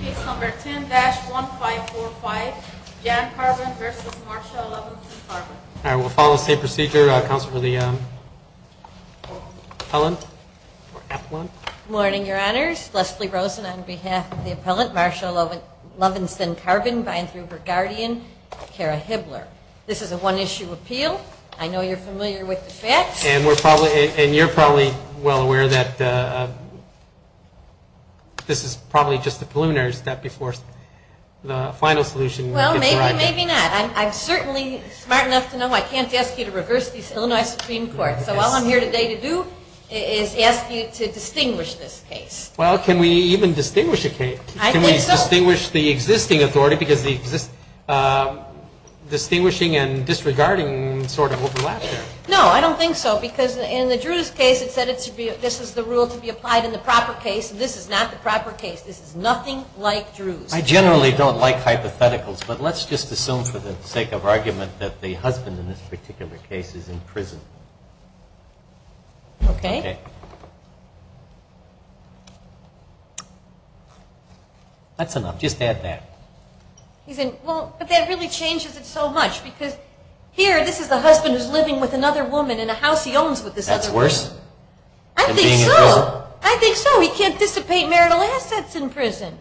Page number 10-1545, Jan Karbin v. Marsha Lovinson Karbin. All right, we'll follow the same procedure. Counsel for the appellant. Good morning, Your Honors. Leslie Rosen on behalf of the appellant, Marsha Lovinson Karbin, by and through her guardian, Kara Hibbler. This is a one-issue appeal. I know you're familiar with the facts. And you're probably well aware that this is probably just a preliminary step before the final solution. Well, maybe, maybe not. I'm certainly smart enough to know I can't ask you to reverse the Illinois Supreme Court. So all I'm here today to do is ask you to distinguish this case. Well, can we even distinguish a case? I think so. Can we distinguish the existing authority? Because the distinguishing and disregarding sort of overlap there. No, I don't think so. Because in the Drews case, it said this is the rule to be applied in the proper case. And this is not the proper case. This is nothing like Drews. I generally don't like hypotheticals, but let's just assume for the sake of argument that the husband in this particular case is in prison. Okay. That's enough. Just add that. But that really changes it so much. Because here, this is the husband who's living with another woman in a house he owns with this other woman. That's worse than being in prison? I think so. I think so. He can't dissipate marital assets in prison.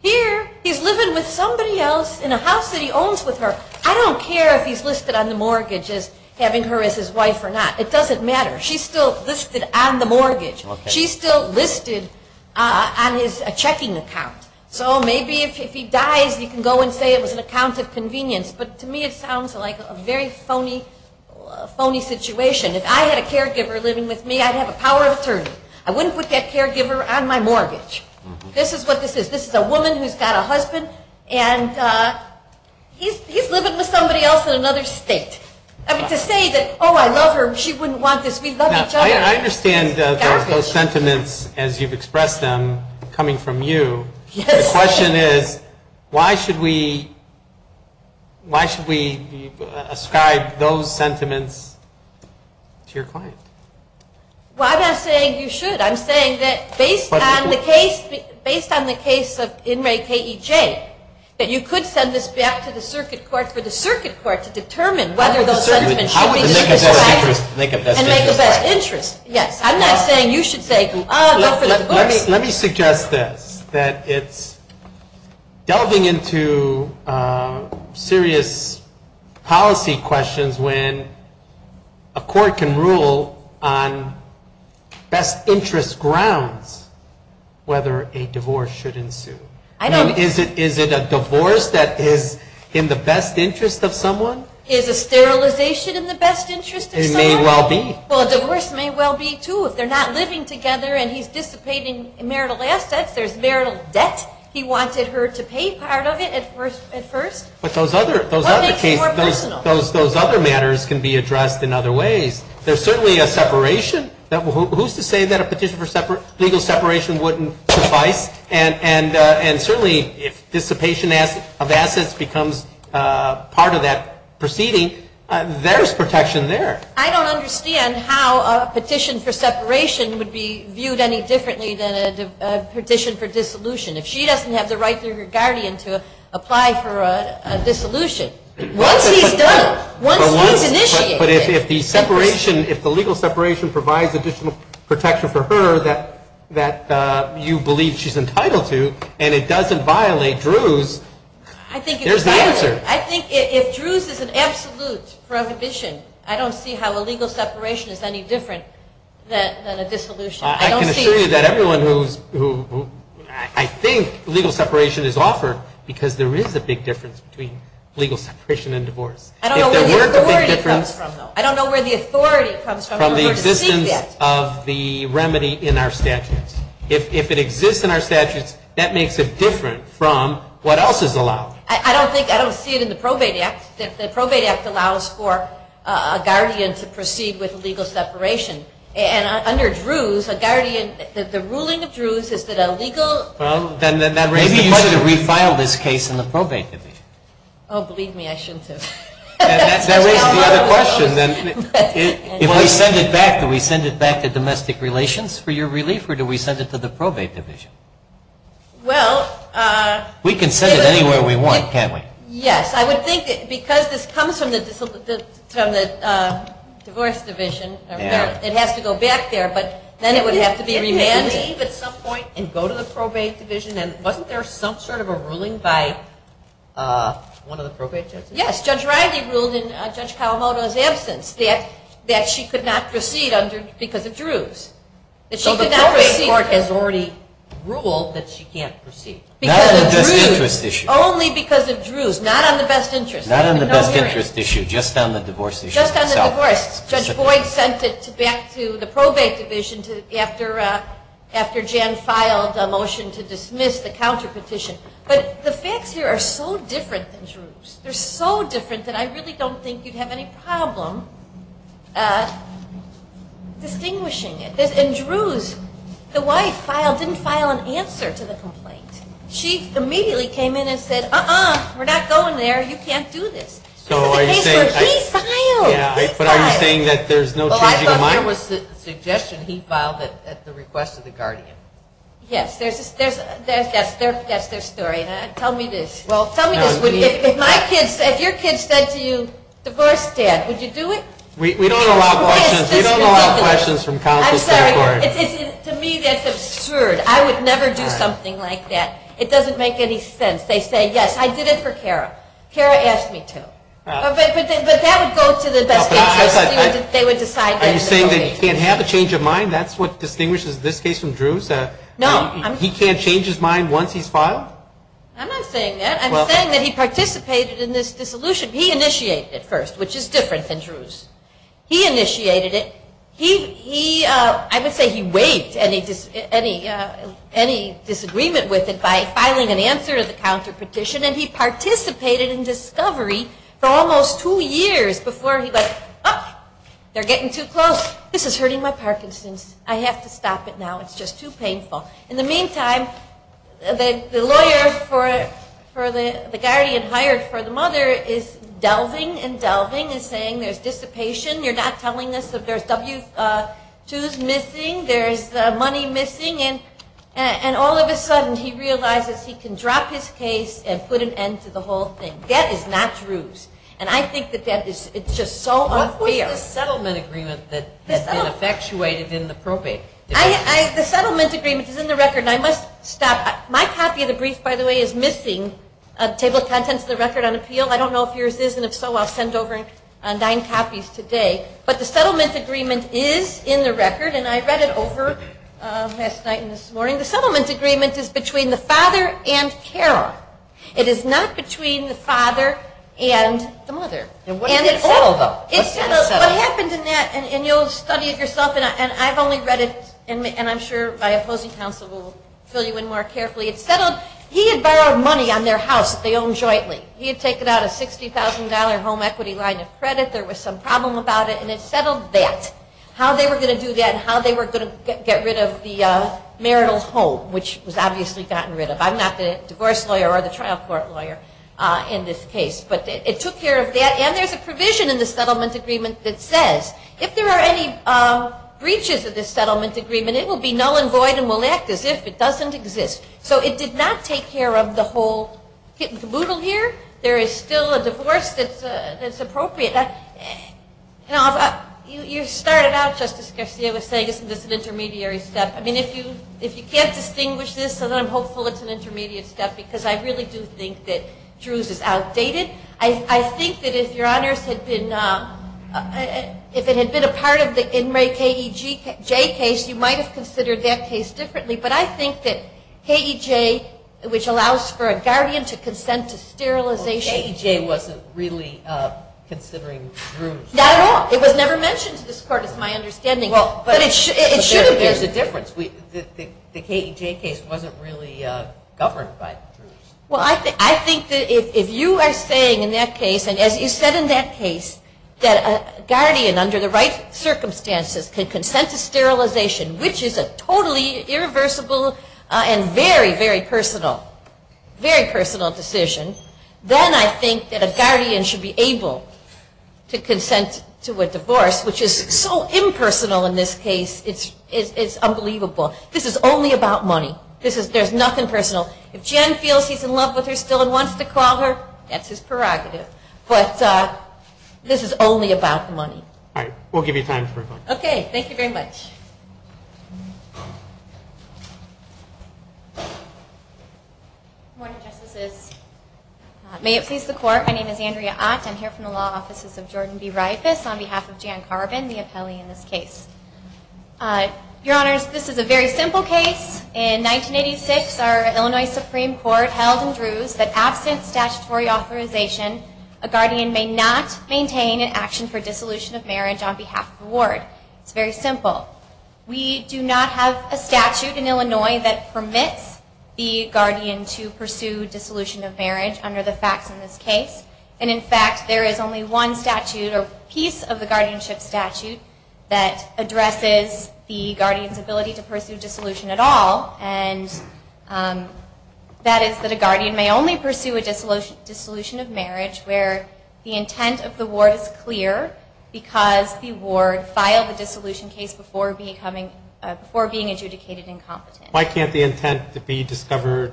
Here, he's living with somebody else in a house that he owns with her. I don't care if he's listed on the mortgage as having her as his wife or not. It doesn't matter. She's still listed on the mortgage. She's still listed on his checking account. So maybe if he dies, you can go and say it was an account of convenience. But to me, it sounds like a very phony situation. If I had a caregiver living with me, I'd have a power of attorney. I wouldn't put that caregiver on my mortgage. This is what this is. This is a woman who's got a husband, and he's living with somebody else in another state. I mean, to say that, oh, I love her. She wouldn't want this. We love each other. I understand those sentiments as you've expressed them coming from you. The question is, why should we ascribe those sentiments to your client? Well, I'm not saying you should. I'm saying that based on the case of In re Ke J, that you could send this back to the circuit court for the circuit court to determine whether those sentiments should be Yes, I'm not saying you should say, oh, go for the divorce. Let me suggest this, that it's delving into serious policy questions when a court can rule on best interest grounds whether a divorce should ensue. I mean, is it a divorce that is in the best interest of someone? Is a sterilization in the best interest of someone? Well, a divorce may well be, too, if they're not living together and he's dissipating marital assets. There's marital debt. He wanted her to pay part of it at first. But those other cases, those other matters can be addressed in other ways. There's certainly a separation. Who's to say that a petition for legal separation wouldn't suffice? And certainly, if dissipation of assets becomes part of that proceeding, there's protection there. I don't understand how a petition for separation would be viewed any differently than a petition for dissolution. If she doesn't have the right through her guardian to apply for a dissolution, once he's done it, once he's initiated it. But if the separation, if the legal separation provides additional protection for her that you believe she's entitled to, and it doesn't violate Drew's, there's the answer. I think if Drew's is an absolute prohibition, I don't see how a legal separation is any different than a dissolution. I can assure you that everyone who, I think legal separation is offered because there is a big difference between legal separation and divorce. I don't know where the authority comes from, though. I don't know where the authority comes from. From the existence of the remedy in our statutes. If it exists in our statutes, that makes it different from what else is allowed. I don't think, I don't see it in the Probate Act. The Probate Act allows for a guardian to proceed with legal separation. And under Drew's, a guardian, the ruling of Drew's is that a legal. Maybe you should have refiled this case in the Probate Division. Oh, believe me, I shouldn't have. If we send it back, do we send it back to Domestic Relations for your relief, or do we send it to the Probate Division? Well. We can send it anywhere we want, can't we? Yes, I would think that because this comes from the Divorce Division, it has to go back there, but then it would have to be remanded. It could leave at some point and go to the Probate Division, and wasn't there some sort of a ruling by one of the Probate Judges? Yes, Judge Riley ruled in Judge Kawamoto's absence that she could not proceed because of Drew's. So the Probate Court has already ruled that she can't proceed. Not on the best interest issue. Only because of Drew's, not on the best interest. Not on the best interest issue, just on the divorce issue. Just on the divorce. Judge Boyd sent it back to the Probate Division after Jan filed a motion to dismiss the counterpetition. But the facts here are so different than Drew's. They're so different that I really don't think you'd have any problem distinguishing it. And Drew's, the wife filed, didn't file an answer to the complaint. She immediately came in and said, uh-uh, we're not going there, you can't do this. That's the case where he filed. But are you saying that there's no changing of mind? Well, I thought there was the suggestion he filed it at the request of the guardian. Yes, that's their story. Tell me this. Well, tell me this, if your kids said to you, divorce dad, would you do it? We don't allow questions from counsel's category. To me that's absurd. I would never do something like that. It doesn't make any sense. They say, yes, I did it for Kara. Kara asked me to. But that would go to the best interest. Are you saying that he can't have a change of mind? That's what distinguishes this case from Drew's? No. He can't change his mind once he's filed? I'm not saying that. I'm saying that he participated in this dissolution. He initiated it first, which is different than Drew's. He initiated it. I would say he waived any disagreement with it by filing an answer to the counterpetition, and he participated in discovery for almost two years before he went, oh, they're getting too close. This is hurting my Parkinson's. I have to stop it now. It's just too painful. In the meantime, the lawyer for the guardian hired for the mother is delving and delving and saying there's dissipation. You're not telling us that there's W-2s missing, there's money missing, and all of a sudden he realizes he can drop his case and put an end to the whole thing. That is not Drew's, and I think that that is just so unfair. What was the settlement agreement that had been effectuated in the probate? The settlement agreement is in the record, and I must stop. My copy of the brief, by the way, is missing. Table of contents of the record on appeal. I don't know if yours is, and if so, I'll send over nine copies today. But the settlement agreement is in the record, and I read it over last night and this morning. The settlement agreement is between the father and Carol. It is not between the father and the mother. And what is it all about? What happened in that, and you'll study it yourself, and I've only read it, and I'm sure my opposing counsel will fill you in more carefully. He had borrowed money on their house that they own jointly. He had taken out a $60,000 home equity line of credit. There was some problem about it, and it settled that. How they were going to do that and how they were going to get rid of the marital home, which was obviously gotten rid of. I'm not the divorce lawyer or the trial court lawyer in this case, but it took care of that. And there's a provision in the settlement agreement that says, if there are any breaches of this settlement agreement, it will be null and void and will act as if it doesn't exist. So it did not take care of the whole kit and caboodle here. There is still a divorce that's appropriate. You started out, Justice Garcia, with saying, isn't this an intermediary step? I mean, if you can't distinguish this, then I'm hopeful it's an intermediate step because I really do think that Drew's is outdated. I think that if it had been a part of the inmate KEJ case, you might have considered that case differently. But I think that KEJ, which allows for a guardian to consent to sterilization. KEJ wasn't really considering Drew's. Not at all. It was never mentioned to this court, is my understanding. But it should have been. There's a difference. The KEJ case wasn't really governed by Drew's. Well, I think that if you are saying in that case, and as you said in that case, that a guardian, under the right circumstances, could consent to sterilization, which is a totally irreversible and very, very personal decision, then I think that a guardian should be able to consent to a divorce, which is so impersonal in this case. It's unbelievable. This is only about money. There's nothing personal. If Jen feels he's in love with her still and wants to call her, that's his prerogative. But this is only about money. All right. We'll give you time for a question. Okay. Thank you very much. Good morning, Justices. May it please the Court, my name is Andrea Ott. I'm here from the Law Offices of Jordan B. Reifus on behalf of Jan Carbin, the appellee in this case. Your Honors, this is a very simple case. In 1986, our Illinois Supreme Court held in Drews that absent statutory authorization, a guardian may not maintain an action for dissolution of marriage on behalf of the ward. It's very simple. We do not have a statute in Illinois that permits the guardian to pursue dissolution of marriage under the facts in this case. And, in fact, there is only one statute or piece of the guardianship statute that addresses the guardian's ability to pursue dissolution at all, and that is that a guardian may only pursue a dissolution of marriage where the intent of the ward is clear because the ward filed the dissolution case before being adjudicated incompetent. Why can't the intent to be discovered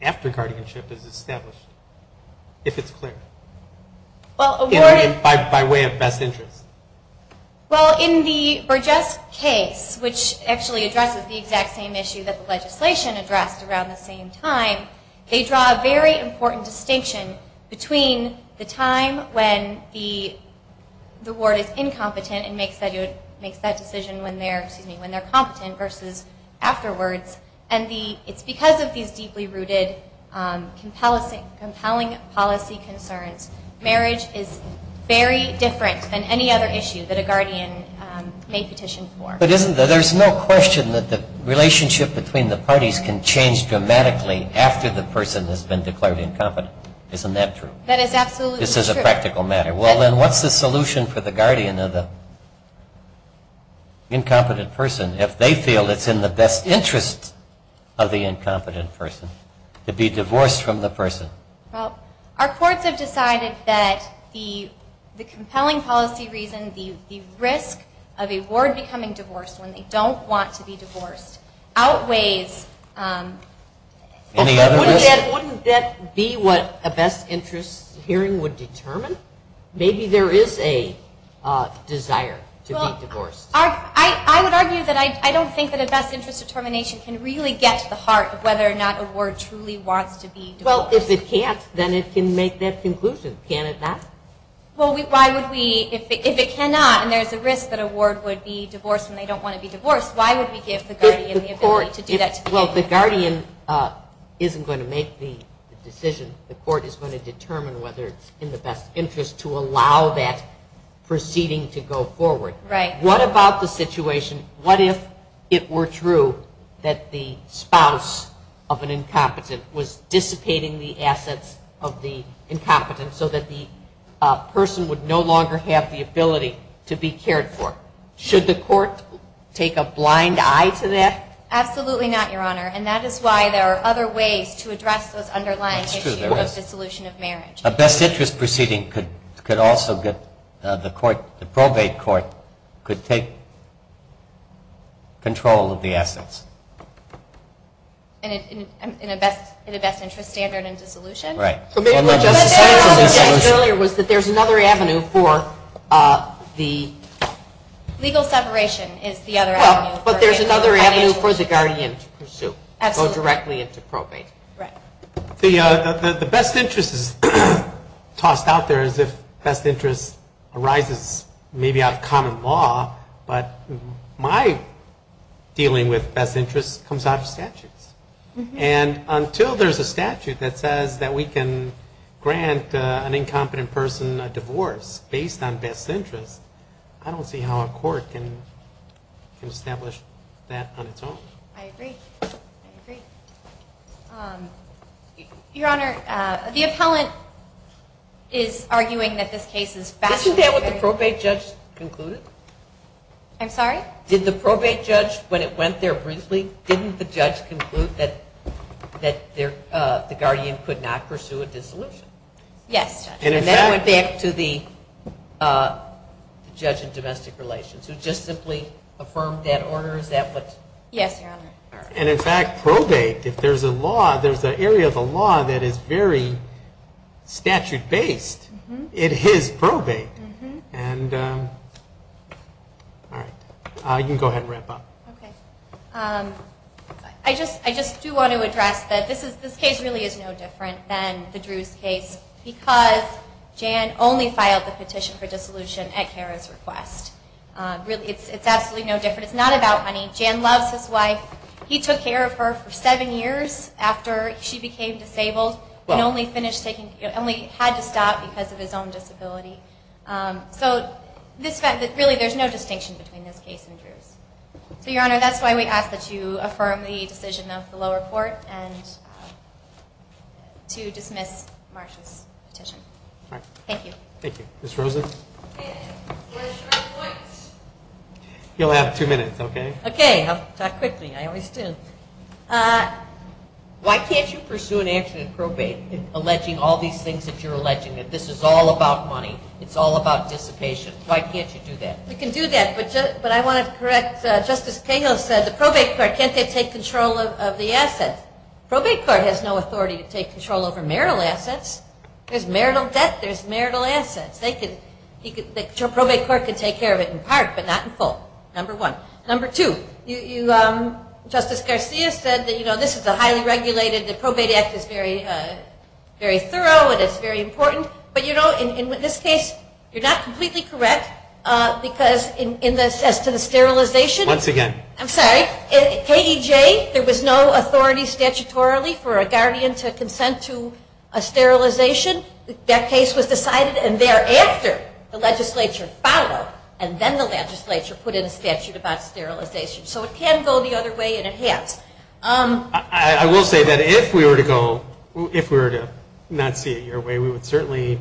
after guardianship is established, if it's clear? By way of best interest. Well, in the Burgess case, which actually addresses the exact same issue that the legislation addressed around the same time, they draw a very important distinction between the time when the ward is incompetent and makes that decision when they're competent versus afterwards. It's because of these deeply rooted compelling policy concerns. Marriage is very different than any other issue that a guardian may petition for. But there's no question that the relationship between the parties can change dramatically after the person has been declared incompetent. Isn't that true? That is absolutely true. This is a practical matter. Well, then, what's the solution for the guardian of the incompetent person if they feel it's in the best interest of the incompetent person to be divorced from the person? Well, our courts have decided that the compelling policy reason, the risk of a ward becoming divorced when they don't want to be divorced, outweighs... Any other risk? Wouldn't that be what a best interest hearing would determine? Maybe there is a desire to be divorced. I would argue that I don't think that a best interest determination can really get to the heart of whether or not a ward truly wants to be divorced. Well, if it can't, then it can make that conclusion. Can it not? Well, why would we? If it cannot and there's a risk that a ward would be divorced when they don't want to be divorced, why would we give the guardian the ability to do that? Well, the guardian isn't going to make the decision. The court is going to determine whether it's in the best interest to allow that proceeding to go forward. Right. What about the situation, what if it were true that the spouse of an incompetent was dissipating the assets of the incompetent so that the person would no longer have the ability to be cared for? Should the court take a blind eye to that? Absolutely not, Your Honor, and that is why there are other ways to address those underlying issues of dissolution of marriage. A best interest proceeding could also get the court, the probate court could take control of the assets. In a best interest standard in dissolution? Right. What the judge said earlier was that there's another avenue for the... Legal separation is the other avenue. Well, but there's another avenue for the guardian to pursue, go directly into probate. Right. The best interest is tossed out there as if best interest arises maybe out of common law, but my dealing with best interest comes out of statutes. And until there's a statute that says that we can grant an incompetent person a divorce based on best interest, I don't see how a court can establish that on its own. I agree. I agree. Your Honor, the appellant is arguing that this case is... Isn't that what the probate judge concluded? I'm sorry? Did the probate judge, when it went there briefly, didn't the judge conclude that the guardian could not pursue a dissolution? Yes, Judge. And that went back to the judge in domestic relations, who just simply affirmed that order? Yes, Your Honor. And, in fact, probate, if there's a law, there's an area of the law that is very statute-based, it is probate. All right. You can go ahead and wrap up. Okay. I just do want to address that this case really is no different than the Drews case because Jan only filed the petition for dissolution at Kara's request. It's absolutely no different. It's not about money. Jan loves his wife. He took care of her for seven years after she became disabled and only had to stop because of his own disability. So really there's no distinction between this case and Drews. So, Your Honor, that's why we ask that you affirm the decision of the lower court to dismiss Marsh's petition. All right. Thank you. Thank you. Ms. Rosen? Question or points? You'll have two minutes, okay? Okay. I'll talk quickly. I always do. Why can't you pursue an answer in probate, alleging all these things that you're alleging, that this is all about money, it's all about dissipation? Why can't you do that? We can do that, but I want to correct Justice Cahill said the probate court, can't they take control of the assets? Probate court has no authority to take control over marital assets. There's marital debt. There's marital assets. Probate court can take care of it in part, but not in full, number one. Number two, Justice Garcia said that, you know, this is a highly regulated, the probate act is very thorough and it's very important. But, you know, in this case, you're not completely correct, because as to the sterilization. Once again. I'm sorry. KEJ, there was no authority statutorily for a guardian to consent to a sterilization. That case was decided, and thereafter, the legislature followed, and then the legislature put in a statute about sterilization. So it can go the other way, and it has. I will say that if we were to go, if we were to not see it your way, we would certainly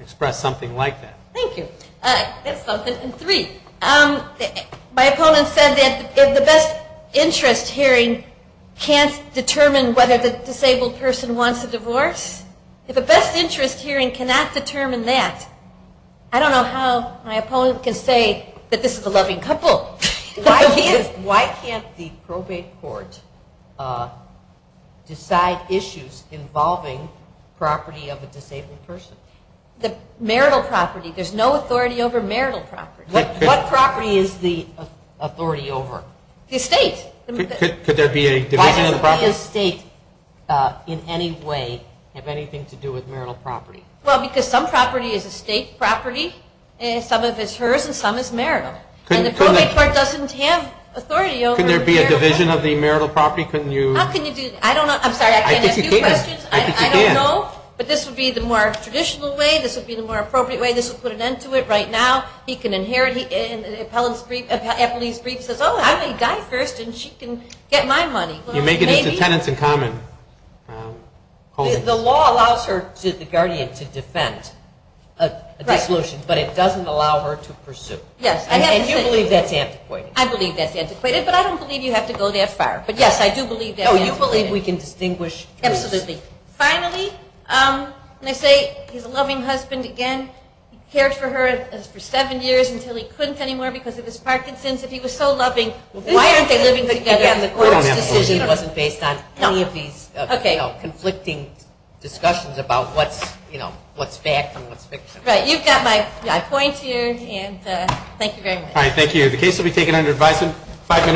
express something like that. Thank you. That's something. And three, my opponent said that the best interest hearing can't determine whether the disabled person wants a divorce. If a best interest hearing cannot determine that, I don't know how my opponent can say that this is a loving couple. Why can't the probate court decide issues involving property of a disabled person? The marital property. There's no authority over marital property. What property is the authority over? The estate. Could there be a division of the property? Why does estate in any way have anything to do with marital property? Well, because some property is estate property, and some of it is hers, and some is marital. And the probate court doesn't have authority over marital property. Couldn't there be a division of the marital property? How can you do that? I don't know. I'm sorry, I can't answer your questions. I think you can. I don't know, but this would be the more traditional way. This would be the more appropriate way. This would put an end to it right now. He can inherit. Appellee's brief says, oh, I may die first and she can get my money. You make it as tenants in common. The law allows the guardian to defend a dissolution, but it doesn't allow her to pursue. Yes. And you believe that's antiquated. I believe that's antiquated, but I don't believe you have to go that far. But, yes, I do believe that's antiquated. Oh, you believe we can distinguish. Absolutely. Finally, when I say he's a loving husband, again, he cared for her for seven years until he couldn't anymore because of his Parkinson's. If he was so loving, why aren't they living together? This decision wasn't based on any of these conflicting discussions about what's fact and what's fiction. Right. You've got my point here, and thank you very much. All right, thank you. The case will be taken under advice in five minutes.